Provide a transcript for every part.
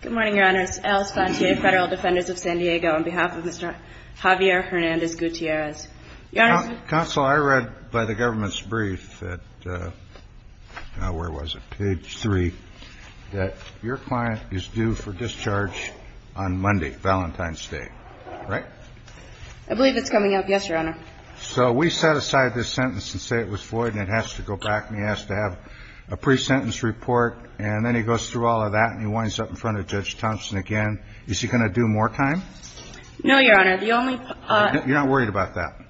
Good morning, Your Honors. Alice Fontier, Federal Defenders of San Diego, on behalf of Mr. Javier Hernandez-Gutierrez. Counsel, I read by the government's brief that, where was it, page 3, that your client is due for discharge on Monday, Valentine's Day, right? I believe it's coming up, yes, Your Honor. So we set aside this sentence and say it was void and it has to go back and he has to have a pre-sentence report and then he goes through all of that and he winds up in front of Judge Thompson again. Is he going to do more time? No, Your Honor. The only... You're not worried about that?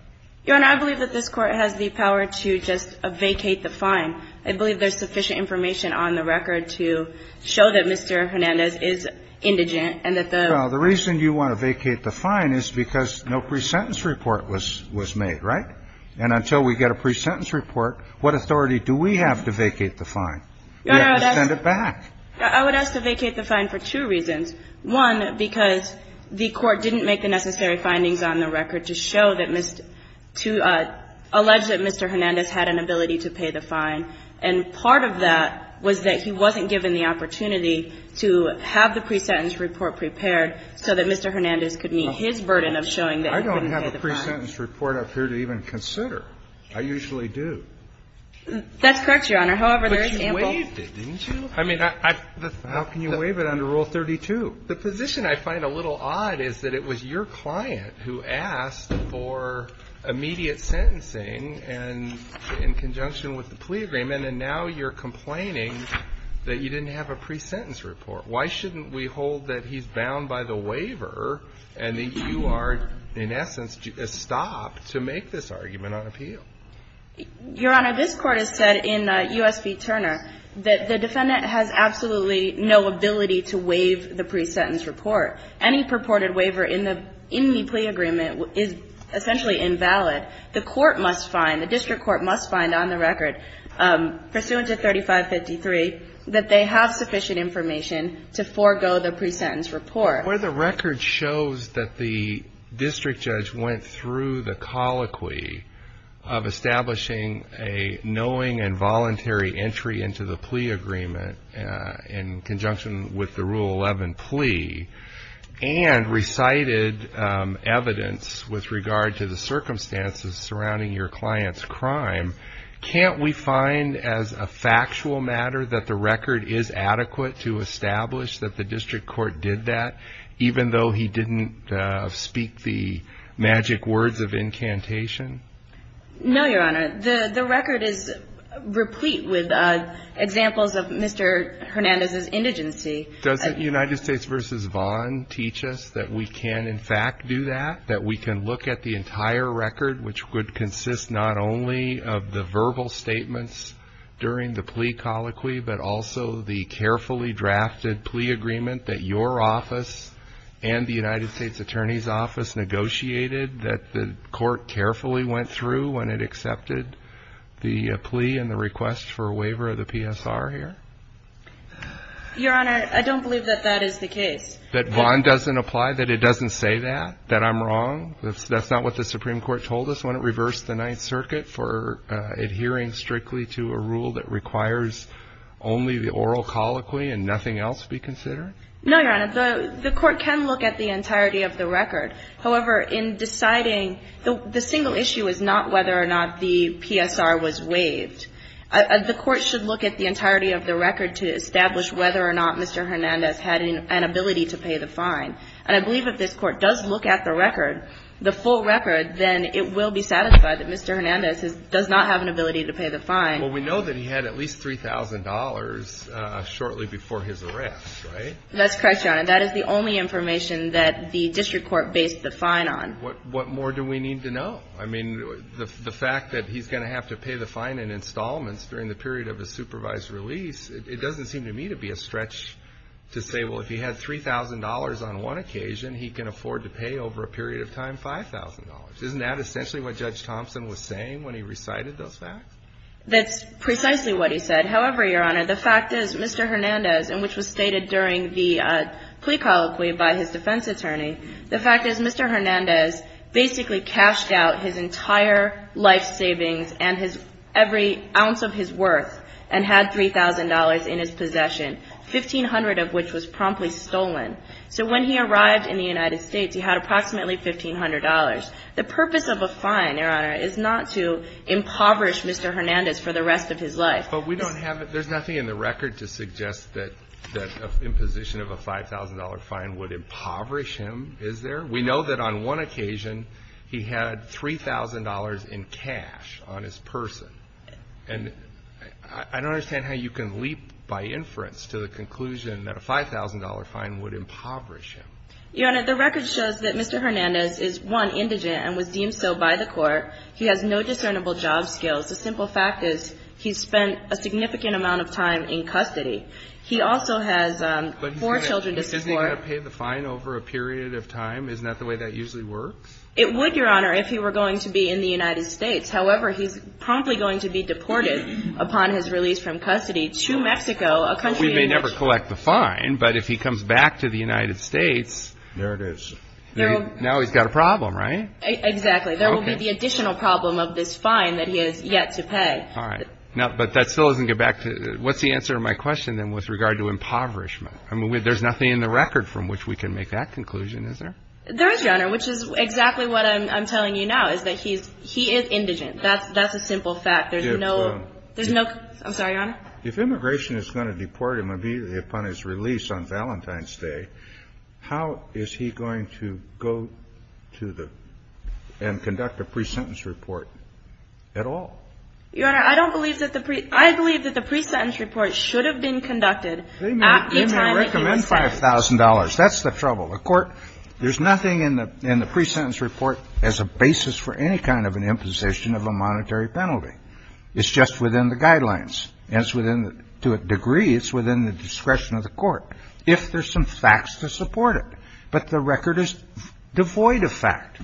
Your Honor, I believe that this court has the power to just vacate the fine. I believe there's sufficient information on the record to show that Mr. Hernandez is indigent and that the... Well, the reason you want to vacate the fine is because no pre-sentence report was made, right? And until we get a pre-sentence report, what authority do we have to vacate the fine? We have to send it back. I would ask to vacate the fine for two reasons. One, because the court didn't make the necessary findings on the record to show that Mr. to allege that Mr. Hernandez had an ability to pay the fine. And part of that was that he wasn't given the opportunity to have the pre-sentence report prepared so that Mr. Hernandez could meet his burden of showing that he couldn't pay the fine. I don't have a pre-sentence report up here to even consider. I usually do. That's correct, Your Honor. However, there is ample... But you waived it, didn't you? I mean, I... How can you waive it under Rule 32? The position I find a little odd is that it was your client who asked for immediate sentencing in conjunction with the plea agreement, and now you're complaining that you didn't have a pre-sentence report. Why shouldn't we hold that he's bound by the waiver and that you are, in essence, a stop to make this argument on appeal? Your Honor, this Court has said in U.S. v. Turner that the defendant has absolutely no ability to waive the pre-sentence report. Any purported waiver in the plea agreement is essentially invalid. The court must find, the district court must find on the record, pursuant to 3553, that they have sufficient information to forego the pre-sentence report. Where the record shows that the district judge went through the colloquy of establishing a knowing and voluntary entry into the plea agreement in conjunction with the Rule 11 plea and recited evidence with regard to the circumstances surrounding your client's crime, can't we find as a factual matter that the record is adequate to establish that the district court did that even though he didn't speak the magic words of incantation? No, Your Honor. The record is replete with examples of Mr. Hernandez's indigency. Doesn't United States v. Vaughn teach us that we can, in fact, do that, that we can look at the entire record, which would consist not only of the verbal statements during the plea colloquy, but also the carefully drafted plea agreement that your office and the United States Attorney's Office negotiated that the court carefully went through when it accepted the plea and the request for a waiver of the PSR here? Your Honor, I don't believe that that is the case. That Vaughn doesn't apply, that it doesn't say that, that I'm wrong? That's not what the Supreme Court told us when it reversed the Ninth Circuit for adhering strictly to a rule that requires only the oral colloquy and nothing else be considered? No, Your Honor. The court can look at the entirety of the record. However, in deciding, the single issue is not whether or not the PSR was waived. The court should look at the entirety of the record to establish whether or not Mr. Hernandez had an ability to pay the fine. And I believe if this Court does look at the record, the full record, then it will be satisfied that Mr. Hernandez does not have an ability to pay the fine. Well, we know that he had at least $3,000 shortly before his arrest, right? That's correct, Your Honor. That is the only information that the district court based the fine on. What more do we need to know? I mean, the fact that he's going to have to pay the fine in installments during the period of his supervised release, it doesn't seem to me to be a stretch to say, well, if he had $3,000 on one occasion, he can afford to pay over a period of time $5,000. Isn't that essentially what Judge Thompson was saying when he recited those facts? That's precisely what he said. However, Your Honor, the fact is Mr. Hernandez, and which was stated during the plea colloquy by his defense attorney, the fact is Mr. Hernandez basically cashed out his entire life savings and every ounce of his worth and had $3,000 in his possession, 1,500 of which was promptly stolen. So when he arrived in the United States, he had approximately $1,500. The purpose of a fine, Your Honor, is not to impoverish Mr. Hernandez for the rest of his life. But we don't have it. There's nothing in the record to suggest that an imposition of a $5,000 fine would impoverish him, is there? We know that on one occasion he had $3,000 in cash on his person. And I don't understand how you can leap by inference to the conclusion that a $5,000 fine would impoverish him. Your Honor, the record shows that Mr. Hernandez is, one, indigent and was deemed so by the court. He has no discernible job skills. The simple fact is he spent a significant amount of time in custody. He also has four children to support. But isn't he going to pay the fine over a period of time? Isn't that the way that usually works? It would, Your Honor, if he were going to be in the United States. However, he's promptly going to be deported upon his release from custody to Mexico, a country in which- We may never collect the fine, but if he comes back to the United States- There it is. Now he's got a problem, right? Exactly. There will be the additional problem of this fine that he has yet to pay. All right. But that still doesn't get back to- What's the answer to my question, then, with regard to impoverishment? I mean, there's nothing in the record from which we can make that conclusion, is there? There is, Your Honor, which is exactly what I'm telling you now, is that he is indigent. That's a simple fact. There's no- There's no- I'm sorry, Your Honor? If immigration is going to deport him immediately upon his release on Valentine's Day, how is he going to go to the- and conduct a pre-sentence report at all? Your Honor, I don't believe that the pre- I believe that the pre-sentence report should have been conducted at the time that he was sent. They may recommend $5,000. That's the trouble. A court, there's nothing in the pre-sentence report as a basis for any kind of an imposition of a monetary penalty. It's just within the guidelines. And it's within, to a degree, it's within the discretion of the court, if there's some facts to support it. But the record is devoid of fact.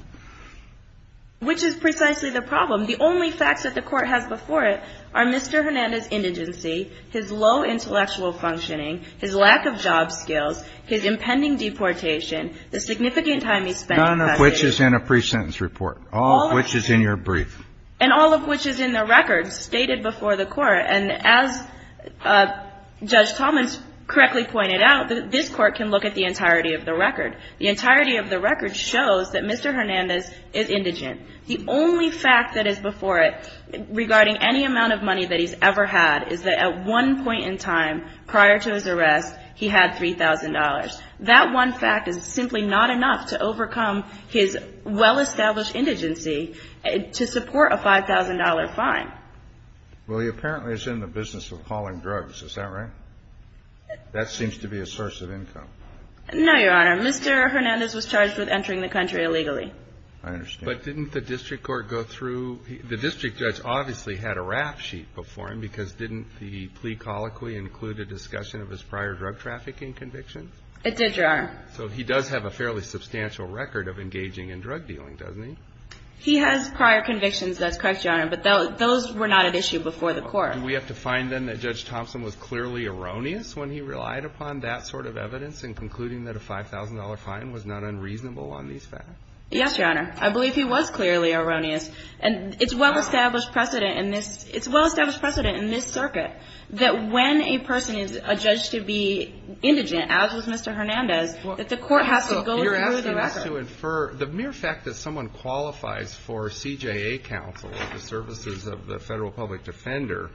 Which is precisely the problem. The only facts that the court has before it are Mr. Hernandez's indigency, his low intellectual functioning, his lack of job skills, his impending deportation, the significant time he spent in custody- None of which is in a pre-sentence report. All of which is in your brief. And all of which is in the record stated before the court. And as Judge Thomas correctly pointed out, this Court can look at the entirety of the record. The entirety of the record shows that Mr. Hernandez is indigent. The only fact that is before it regarding any amount of money that he's ever had is that at one point in time, prior to his arrest, he had $3,000. That one fact is simply not enough to overcome his well-established indigency to support a $5,000 fine. Well, he apparently is in the business of calling drugs. Is that right? That seems to be a source of income. No, Your Honor. Mr. Hernandez was charged with entering the country illegally. I understand. But didn't the district court go through – the district judge obviously had a rap sheet before him because didn't the plea colloquy include a discussion of his prior drug trafficking convictions? It did, Your Honor. So he does have a fairly substantial record of engaging in drug dealing, doesn't he? He has prior convictions. That's correct, Your Honor. But those were not at issue before the court. Do we have to find then that Judge Thompson was clearly erroneous when he relied upon that sort of evidence in concluding that a $5,000 fine was not unreasonable on these facts? Yes, Your Honor. I believe he was clearly erroneous. And it's well-established precedent in this – it's well-established precedent in this circuit that when a person is adjudged to be indigent, as was Mr. Hernandez, that the court has to go through the record. You're asking us to infer – the mere fact that someone qualifies for CJA counsel at the services of the federal public defender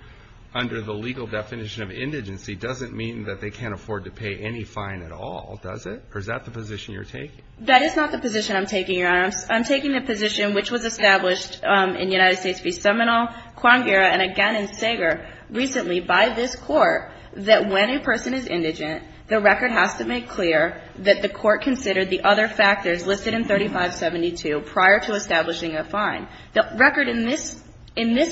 under the legal definition of indigency doesn't mean that they can't afford to pay any fine at all, does it? Or is that the position you're taking? That is not the position I'm taking, Your Honor. I'm taking the position which was established in United States v. Seminole, Cuangara, and again in Sager recently by this Court, that when a person is indigent, the record has to make clear that the court considered the other factors listed in 3572 prior to establishing a fine. The record in this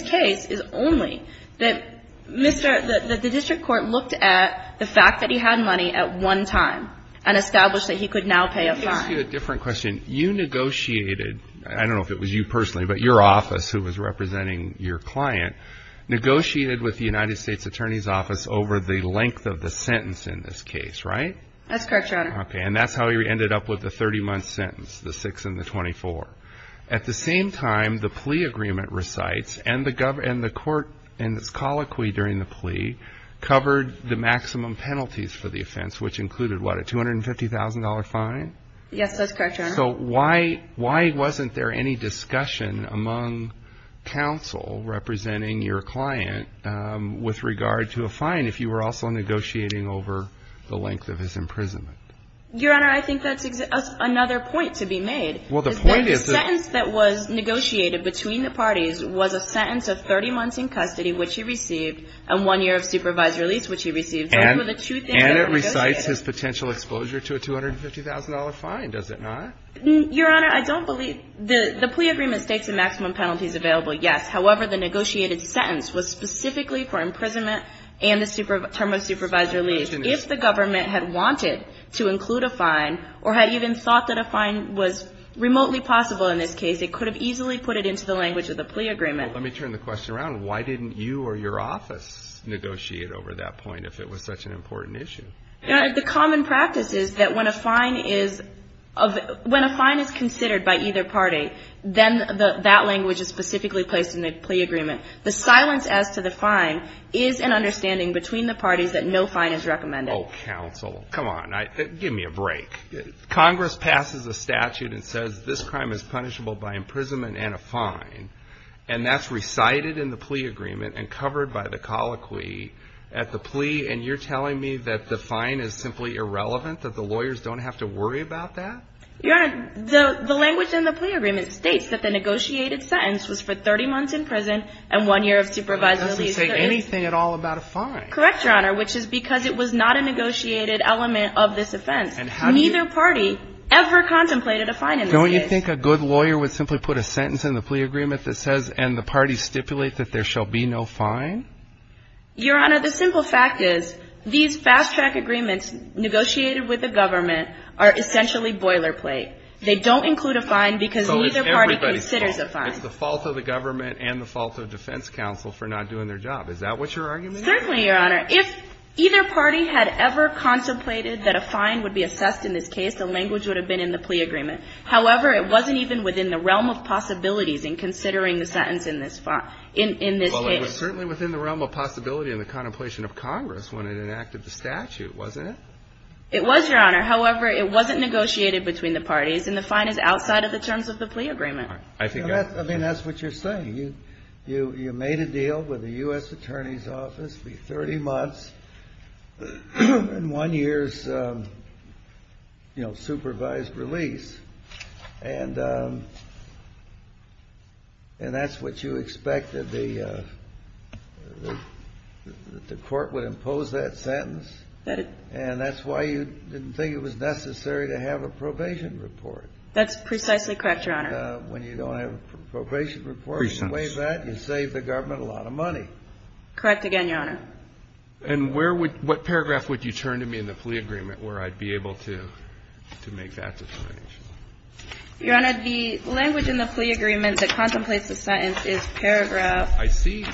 case is only that Mr. – that the district court looked at the fact that he had money at one time and established that he could now pay a fine. Let me ask you a different question. You negotiated – I don't know if it was you personally, but your office, who was representing your client, negotiated with the United States Attorney's Office over the length of the sentence in this case, right? That's correct, Your Honor. Okay, and that's how he ended up with the 30-month sentence, the 6 and the 24. At the same time, the plea agreement recites, and the court in its colloquy during the plea covered the maximum penalties for the offense, which included, what, a $250,000 fine? Yes, that's correct, Your Honor. So why wasn't there any discussion among counsel representing your client with regard to a fine if you were also negotiating over the length of his imprisonment? Your Honor, I think that's another point to be made. Well, the point is that – The sentence that was negotiated between the parties was a sentence of 30 months in custody, which he received, and one year of supervised release, which he received. And it recites his potential exposure to a $250,000 fine, does it not? Your Honor, I don't believe – the plea agreement states the maximum penalties available, yes. However, the negotiated sentence was specifically for imprisonment and the term of supervised release. If the government had wanted to include a fine or had even thought that a fine was remotely possible in this case, it could have easily put it into the language of the plea agreement. Let me turn the question around. Why didn't you or your office negotiate over that point if it was such an important issue? Your Honor, the common practice is that when a fine is considered by either party, then that language is specifically placed in the plea agreement. The silence as to the fine is an understanding between the parties that no fine is recommended. Oh, counsel, come on. Give me a break. Congress passes a statute and says this crime is punishable by imprisonment and a fine, and that's recited in the plea agreement and covered by the colloquy at the plea, and you're telling me that the fine is simply irrelevant, that the lawyers don't have to worry about that? Your Honor, the language in the plea agreement states that the negotiated sentence was for 30 months in prison and one year of supervised release. It doesn't say anything at all about a fine. Correct, Your Honor, which is because it was not a negotiated element of this offense. Neither party ever contemplated a fine in this case. Do you think a good lawyer would simply put a sentence in the plea agreement that says, and the parties stipulate that there shall be no fine? Your Honor, the simple fact is these fast-track agreements negotiated with the government are essentially boilerplate. They don't include a fine because neither party considers a fine. So it's everybody's fault. It's the fault of the government and the fault of defense counsel for not doing their job. Is that what your argument is? Certainly, Your Honor. If either party had ever contemplated that a fine would be assessed in this case, the language would have been in the plea agreement. However, it wasn't even within the realm of possibilities in considering the sentence in this case. Well, it was certainly within the realm of possibility in the contemplation of Congress when it enacted the statute, wasn't it? It was, Your Honor. However, it wasn't negotiated between the parties, and the fine is outside of the terms of the plea agreement. I think that's what you're saying. You made a deal with the U.S. Attorney's Office, be 30 months and one year's, you know, supervised release. And that's what you expect, that the court would impose that sentence? And that's why you didn't think it was necessary to have a probation report. That's precisely correct, Your Honor. And when you don't have a probation report and you waive that, you save the government a lot of money. Correct again, Your Honor. And where would you – what paragraph would you turn to me in the plea agreement where I'd be able to make that determination? Your Honor, the language in the plea agreement that contemplates the sentence is paragraph – I see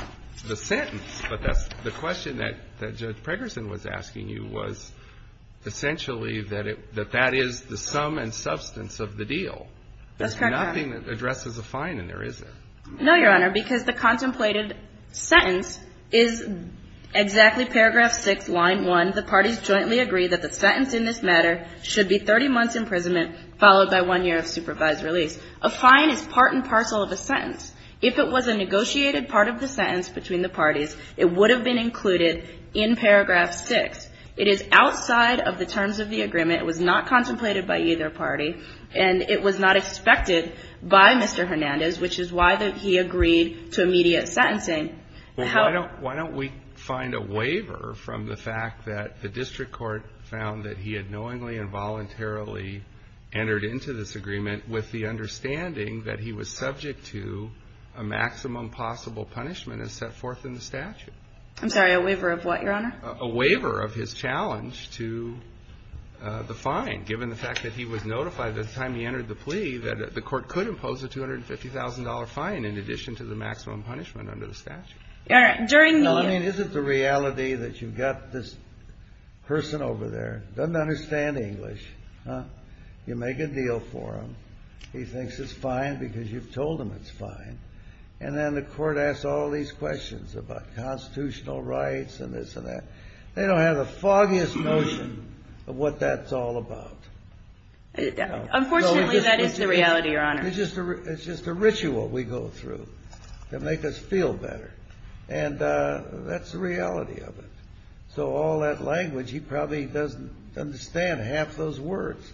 the sentence, but that's – the question that Judge Pregerson was asking you was essentially that it – that that is the sum and substance of the deal. That's correct, Your Honor. There's nothing that addresses a fine in there, is there? No, Your Honor, because the contemplated sentence is exactly paragraph 6, line 1. The parties jointly agree that the sentence in this matter should be 30 months' imprisonment followed by one year of supervised release. A fine is part and parcel of a sentence. If it was a negotiated part of the sentence between the parties, it would have been included in paragraph 6. It is outside of the terms of the agreement. It was not contemplated by either party. And it was not expected by Mr. Hernandez, which is why he agreed to immediate sentencing. Why don't we find a waiver from the fact that the district court found that he had knowingly and voluntarily entered into this agreement with the understanding that he was subject to a maximum possible punishment as set forth in the statute? A waiver of what, Your Honor? A waiver of his challenge to the fine, given the fact that he was notified at the time he entered the plea that the court could impose a $250,000 fine in addition to the maximum punishment under the statute. All right. During the year. Well, I mean, is it the reality that you've got this person over there, doesn't understand English, you make a deal for him, he thinks it's fine because you've told him it's fine, and then the court asks all these questions about constitutional rights and this and that. They don't have the foggiest notion of what that's all about. Unfortunately, that is the reality, Your Honor. It's just a ritual we go through to make us feel better. And that's the reality of it. So all that language, he probably doesn't understand half those words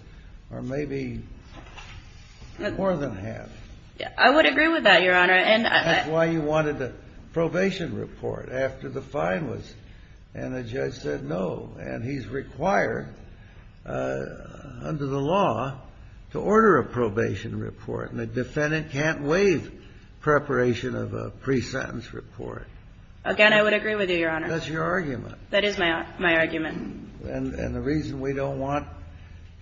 or maybe more than half. I would agree with that, Your Honor. That's why you wanted a probation report after the fine was. And the judge said no. And he's required under the law to order a probation report. And a defendant can't waive preparation of a pre-sentence report. Again, I would agree with you, Your Honor. That's your argument. That is my argument. And the reason we don't want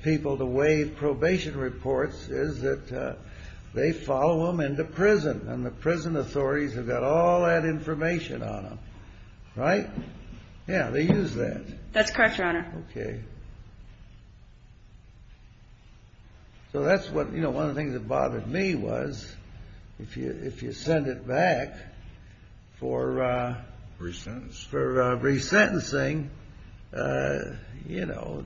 people to waive probation reports is that they follow them into prison, and the prison authorities have got all that information on them. Right? Yeah, they use that. That's correct, Your Honor. Okay. So that's what, you know, one of the things that bothered me was if you send it back for resentencing, you know,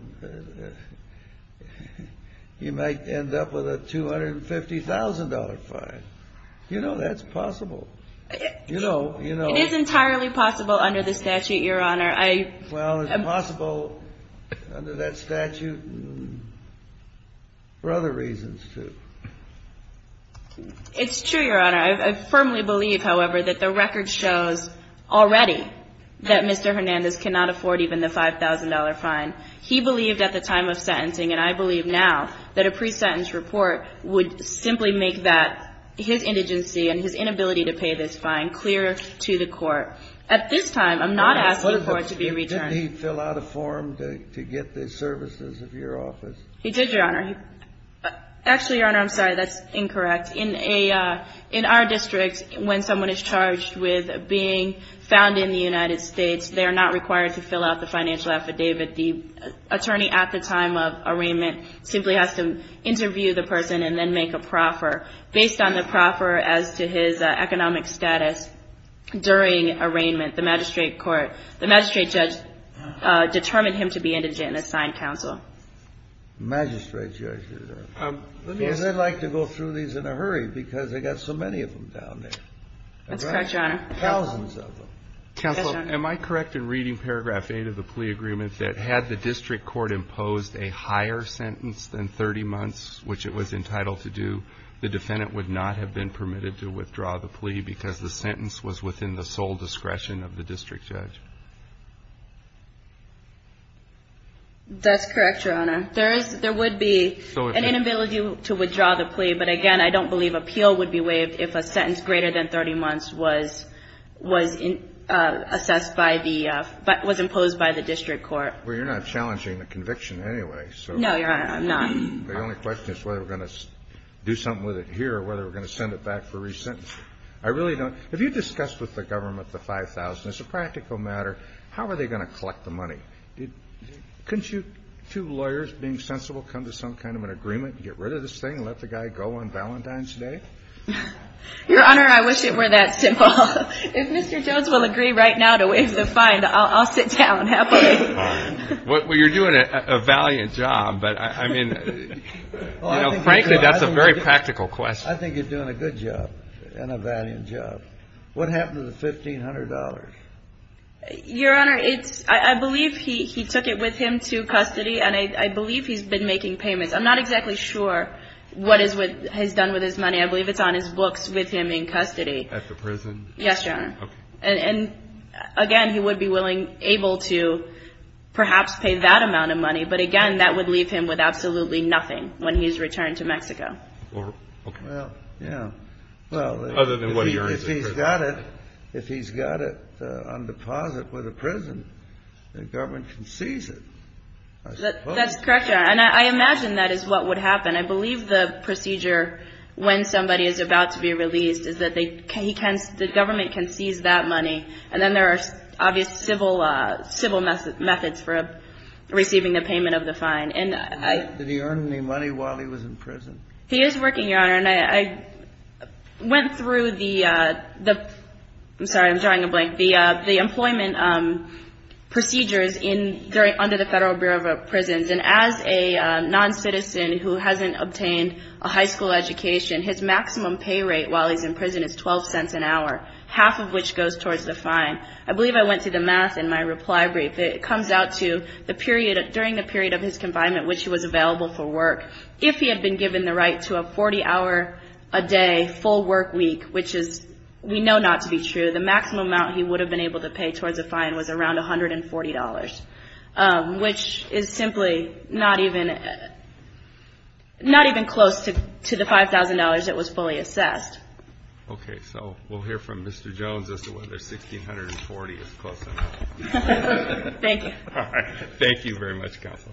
you might end up with a $250,000 fine. You know, that's possible. It is entirely possible under the statute, Your Honor. Well, it's possible under that statute for other reasons, too. It's true, Your Honor. I firmly believe, however, that the record shows already that Mr. Hernandez cannot afford even the $5,000 fine. He believed at the time of sentencing, and I believe now, that a pre-sentence report would simply make that, his indigency and his inability to pay this fine, clearer to the court. At this time, I'm not asking for it to be returned. Did he fill out a form to get the services of your office? He did, Your Honor. Actually, Your Honor, I'm sorry, that's incorrect. In our district, when someone is charged with being found in the United States, they are not required to fill out the financial affidavit. The attorney at the time of arraignment simply has to interview the person and then make a proffer. Based on the proffer as to his economic status during arraignment, the magistrate court, the magistrate judge determined him to be indigent and assigned counsel. The magistrate judges are. Let me ask you. They like to go through these in a hurry because they've got so many of them down there. That's correct, Your Honor. Thousands of them. Counsel, am I correct in reading paragraph 8 of the plea agreement that had the district court imposed a higher sentence than 30 months, which it was entitled to do, the defendant would not have been permitted to withdraw the plea because the sentence was within the sole discretion of the district judge? That's correct, Your Honor. There would be an inability to withdraw the plea, but, again, I don't believe appeal would be waived if a sentence greater than 30 months was assessed by the – was imposed by the district court. Well, you're not challenging the conviction anyway, so. No, Your Honor, I'm not. The only question is whether we're going to do something with it here or whether we're going to send it back for re-sentencing. I really don't. Have you discussed with the government the 5,000? As a practical matter, how are they going to collect the money? Couldn't you two lawyers, being sensible, come to some kind of an agreement and get rid of this thing and let the guy go on Valentine's Day? Your Honor, I wish it were that simple. If Mr. Jones will agree right now to waive the fine, I'll sit down happily. Well, you're doing a valiant job, but, I mean, you know, frankly that's a very practical question. I think you're doing a good job and a valiant job. What happened to the $1,500? Your Honor, I believe he took it with him to custody, and I believe he's been making payments. I'm not exactly sure what he's done with his money. I believe it's on his books with him in custody. At the prison? Yes, Your Honor. Okay. And, again, he would be able to perhaps pay that amount of money, but, again, that would leave him with absolutely nothing when he's returned to Mexico. Well, yeah. Well, if he's got it on deposit with a prison, the government can seize it, I suppose. That's correct, Your Honor, and I imagine that is what would happen. I believe the procedure when somebody is about to be released is that the government can seize that money, and then there are obvious civil methods for receiving the payment of the fine. Did he earn any money while he was in prison? He is working, Your Honor, and I went through the employment procedures under the Federal Bureau of Prisons, and as a noncitizen who hasn't obtained a high school education, his maximum pay rate while he's in prison is $0.12 an hour, half of which goes towards the fine. I believe I went through the math in my reply brief. It comes out to during the period of his confinement, which he was available for work, if he had been given the right to a 40-hour-a-day full work week, which we know not to be true, the maximum amount he would have been able to pay towards the fine was around $140, which is simply not even close to the $5,000 that was fully assessed. Okay. So we'll hear from Mr. Jones as to whether $1,640 is close enough. Thank you. All right. Thank you very much, Counsel.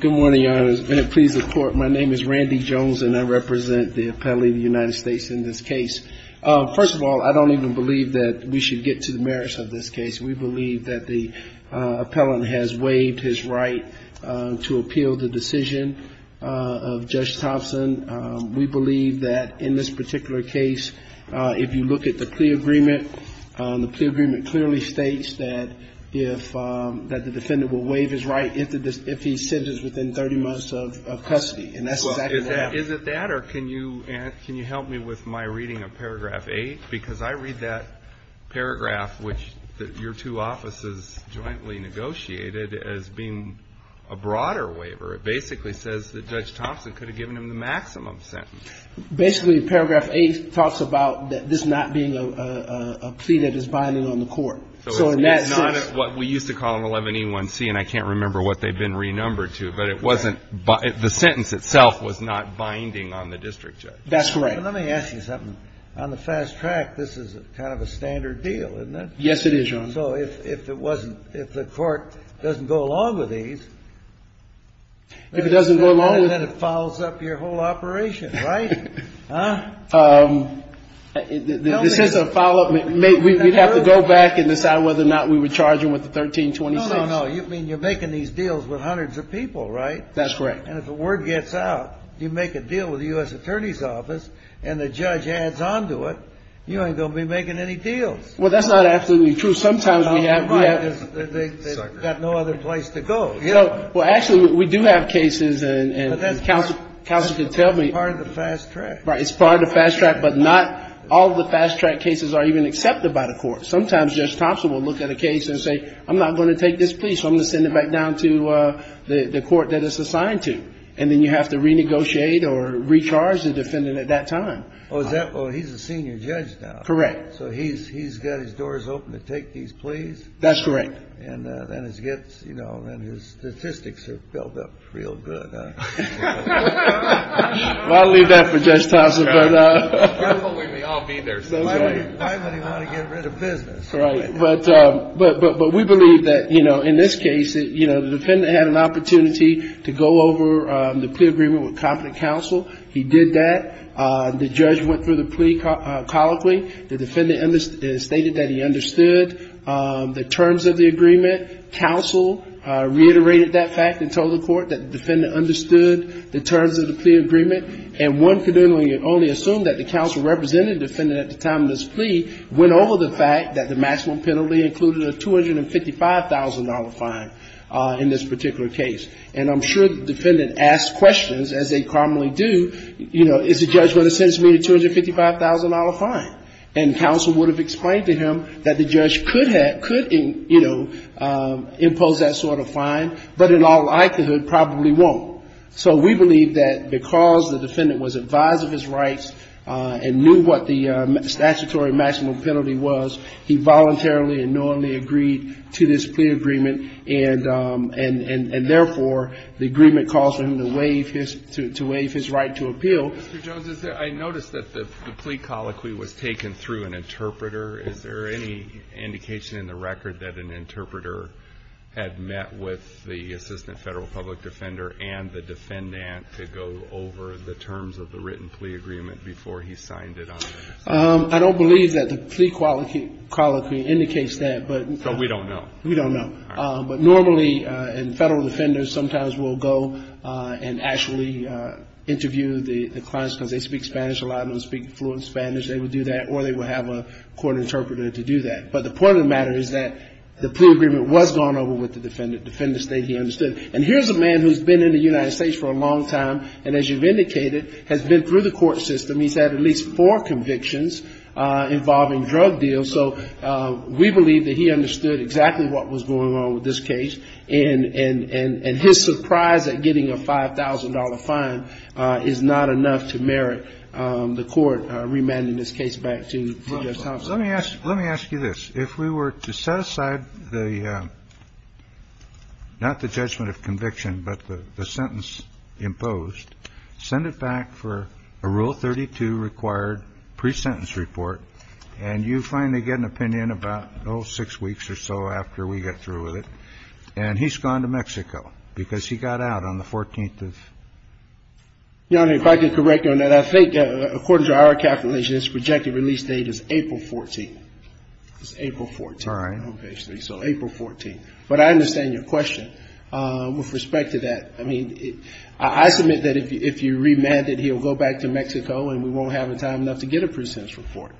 Good morning, Your Honors. May it please the Court, my name is Randy Jones, and I represent the appellee of the United States in this case. First of all, I don't even believe that we should get to the merits of this case. We believe that the appellant has waived his right to appeal the decision of Judge Thompson. We believe that in this particular case, if you look at the plea agreement, the plea agreement clearly states that if the defendant will waive his right if he's sentenced within 30 months of custody. And that's exactly what happened. Is it that, or can you help me with my reading of paragraph 8? Because I read that paragraph, which your two offices jointly negotiated, as being a broader waiver. It basically says that Judge Thompson could have given him the maximum sentence. Basically, paragraph 8 talks about this not being a plea that is binding on the court. So in that sense. It's not what we used to call an 11E1C, and I can't remember what they've been renumbered to, but it wasn't, the sentence itself was not binding on the district judge. That's correct. Well, let me ask you something. On the fast track, this is kind of a standard deal, isn't it? Yes, it is, Your Honor. So if it wasn't, if the court doesn't go along with these. If it doesn't go along with. Then it follows up your whole operation, right? Huh? This is a follow-up. We'd have to go back and decide whether or not we would charge him with the 1326. No, no, no. I mean, you're making these deals with hundreds of people, right? That's correct. And if the word gets out, you make a deal with the U.S. Attorney's Office, and the judge adds on to it, you ain't going to be making any deals. Well, that's not absolutely true. Sometimes we have. They've got no other place to go. Well, actually, we do have cases, and counsel can tell me. It's part of the fast track. Right. It's part of the fast track, but not all of the fast track cases are even accepted by the court. Sometimes Judge Thompson will look at a case and say, I'm not going to take this plea, so I'm going to send it back down to the court that it's assigned to. And then you have to renegotiate or recharge the defendant at that time. Oh, he's a senior judge now. Correct. So he's got his doors open to take these pleas? That's correct. And his statistics are built up real good, huh? I'll leave that for Judge Thompson. I believe they all be there. Why would he want to get rid of business? But we believe that, you know, in this case, you know, the defendant had an opportunity to go over the plea agreement with competent counsel. He did that. The judge went through the plea colloquially. The defendant stated that he understood the terms of the agreement. Counsel reiterated that fact and told the court that the defendant understood the terms of the plea agreement. And one can only assume that the counsel representing the defendant at the time of this plea went over the fact that the maximum penalty included a $255,000 fine in this particular case. And I'm sure the defendant asked questions, as they commonly do, you know, is the judge going to sentence me to a $255,000 fine? And counsel would have explained to him that the judge could, you know, impose that sort of fine, but in all likelihood probably won't. So we believe that because the defendant was advised of his rights and knew what the statutory maximum penalty was, he voluntarily and knowingly agreed to this plea agreement, and therefore the agreement caused him to waive his right to appeal. Mr. Jones, I noticed that the plea colloquy was taken through an interpreter. Is there any indication in the record that an interpreter had met with the assistant Federal public defender and the defendant to go over the terms of the written plea agreement before he signed it on? I don't believe that the plea colloquy indicates that. But we don't know. We don't know. But normally, and Federal defenders sometimes will go and actually interview the clients because they speak Spanish, a lot of them speak fluent Spanish. They would do that, or they would have a court interpreter to do that. But the point of the matter is that the plea agreement was gone over with the defendant. Defendant stated he understood. And here's a man who's been in the United States for a long time, and as you've indicated, has been through the court system. He's had at least four convictions involving drug deals. So we believe that he understood exactly what was going on with this case, and his surprise at getting a $5,000 fine is not enough to merit the court remanding this case back to Judge Thompson. Let me ask you this. If we were to set aside the ‑‑ not the judgment of conviction, but the sentence imposed, send it back for a Rule 32 required pre-sentence report, and you finally get an opinion about, oh, six weeks or so after we get through with it, and he's gone to Mexico because he got out on the 14th of ‑‑ Your Honor, if I could correct you on that. Well, I think according to our calculation, his projected release date is April 14th. It's April 14th. All right. So April 14th. But I understand your question with respect to that. I mean, I submit that if you remand it, he'll go back to Mexico, and we won't have the time enough to get a pre-sentence report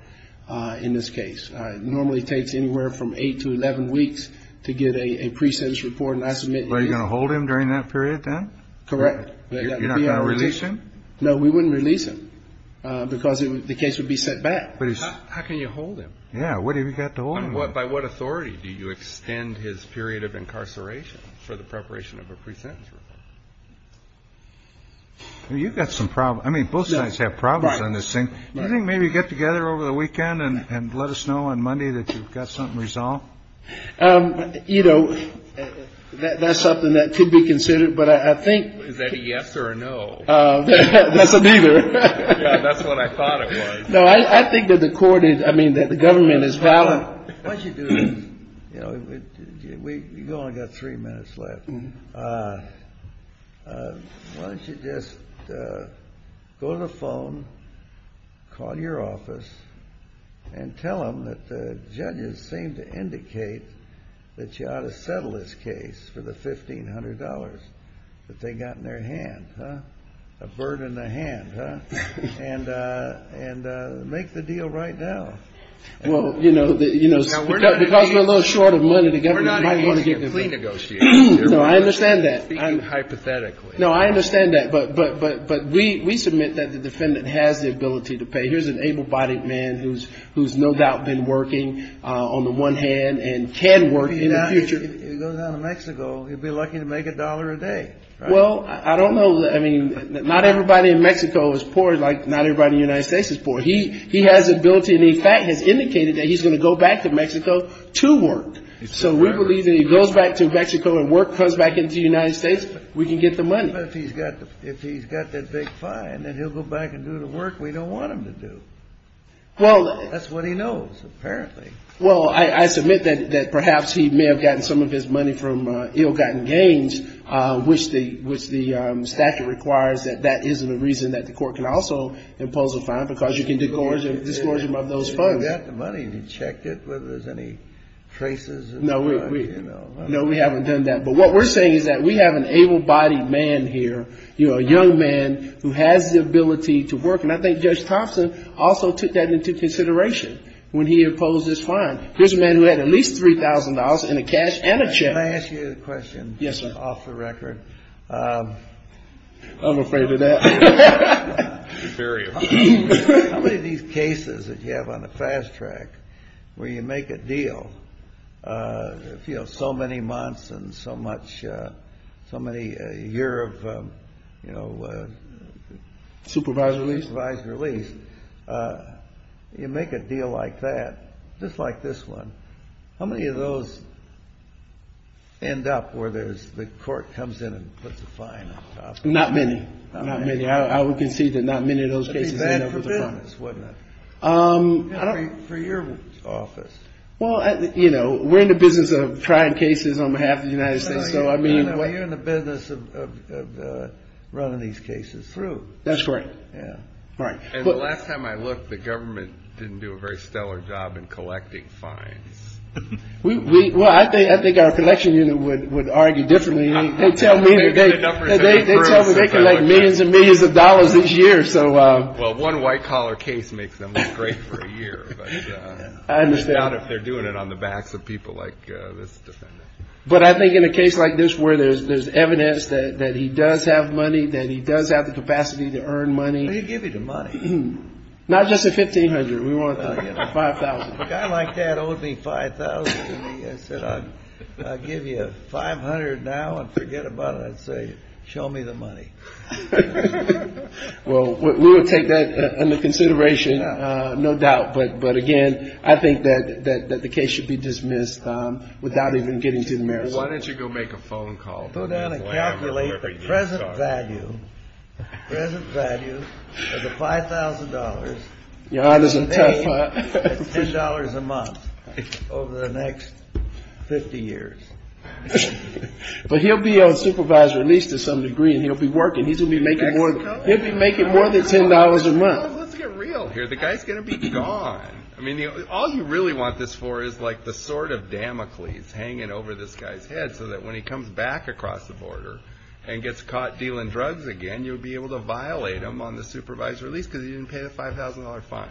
in this case. It normally takes anywhere from eight to 11 weeks to get a pre-sentence report, and I submit ‑‑ Well, are you going to hold him during that period then? Correct. You're not going to release him? No, we wouldn't release him because the case would be set back. How can you hold him? Yeah. What have you got to hold him on? By what authority do you extend his period of incarceration for the preparation of a pre-sentence report? You've got some problems. I mean, both sides have problems on this thing. Do you think maybe you get together over the weekend and let us know on Monday that you've got something resolved? You know, that's something that could be considered, but I think ‑‑ Is that a yes or a no? That's a neither. Yeah, that's what I thought it was. No, I think that the court is ‑‑ I mean, that the government is valid. Why don't you do this? You know, you've only got three minutes left. Why don't you just go to the phone, call your office, and tell them that the judges seem to indicate that you ought to settle this case for the $1,500 that they've got in their hand, huh? A bird in the hand, huh? And make the deal right now. Well, you know, because we're a little short of money, the government might want to give you money. We're not in a clean negotiation. No, I understand that. I'm speaking hypothetically. No, I understand that, but we submit that the defendant has the ability to pay. Here's an able‑bodied man who's no doubt been working on the one hand and can work in the future. If he goes down to Mexico, he'll be lucky to make a dollar a day, right? Well, I don't know. I mean, not everybody in Mexico is poor like not everybody in the United States is poor. He has the ability and, in fact, has indicated that he's going to go back to Mexico to work. So we believe that if he goes back to Mexico and work comes back into the United States, we can get the money. But if he's got that big fine, then he'll go back and do the work we don't want him to do. That's what he knows, apparently. Well, I submit that perhaps he may have gotten some of his money from ill‑gotten gains, which the statute requires that that isn't a reason that the court can also impose a fine, because you can discourage them of those funds. Have you got the money to check it, whether there's any traces? No, we haven't done that. But what we're saying is that we have an able‑bodied man here, you know, a young man who has the ability to work. And I think Judge Thompson also took that into consideration when he imposed this fine. Here's a man who had at least $3,000 in the cash and a check. Can I ask you a question? Yes, sir. Off the record. I'm afraid of that. How many of these cases that you have on the fast track where you make a deal, you know, with so many months and so much ‑‑ so many ‑‑ a year of, you know ‑‑ Supervised release. Supervised release. You make a deal like that, just like this one, how many of those end up where there's ‑‑ the court comes in and puts a fine on top of it? Not many. Not many. I would concede that not many of those cases end up with a fine. That would be bad for business, wouldn't it? For your office. Well, you know, we're in the business of trying cases on behalf of the United States. Well, you're in the business of running these cases through. That's right. And the last time I looked, the government didn't do a very stellar job in collecting fines. Well, I think our collection unit would argue differently. They tell me they collect millions and millions of dollars each year. I doubt if they're doing it on the backs of people like this defendant. But I think in a case like this where there's evidence that he does have money, that he does have the capacity to earn money. They give you the money. Not just the $1,500. We want the $5,000. A guy like that owed me $5,000. He said, I'll give you $500 now and forget about it. I'd say, show me the money. Well, we will take that into consideration, no doubt. But, again, I think that the case should be dismissed without even getting to the merits. Why don't you go make a phone call? Go down and calculate the present value of the $5,000. Your honor is a tough one. It's $10 a month over the next 50 years. But he'll be on supervised release to some degree and he'll be working. He'll be making more than $10 a month. Let's get real here. The guy's going to be gone. All you really want this for is the sword of Damocles hanging over this guy's head so that when he comes back across the border and gets caught dealing drugs again, you'll be able to violate him on the supervised release because he didn't pay the $5,000 fine.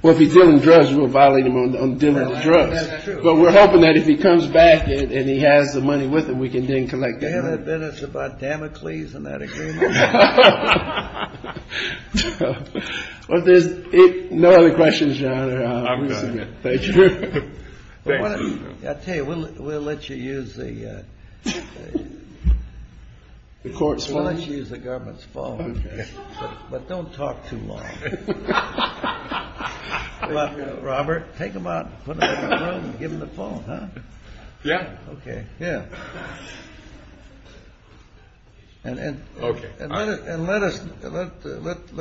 Well, if he's dealing drugs, we'll violate him on dealing drugs. That's true. But we're hoping that if he comes back and he has the money with him, we can then collect the money. Do you have evidence about Damocles and that agreement? No other questions, your honor. I'm done. Thank you. I tell you, we'll let you use the government's phone. But don't talk too long. Robert, take him out and put him in the room and give him the phone, huh? Yeah. Okay. Yeah. And let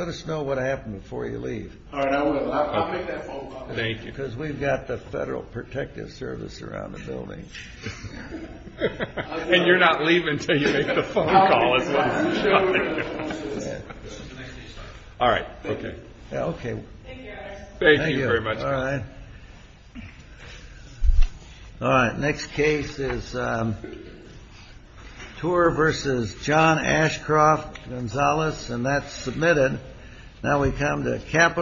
us know what happened before you leave. All right. I'll make that phone call. Thank you. Because we've got the Federal Protective Service around the building. And you're not leaving until you make the phone call. All right. Okay. Okay. Thank you very much. All right. All right. Next case is Tuer versus John Ashcroft Gonzalez. And that's submitted. Now we come to capital.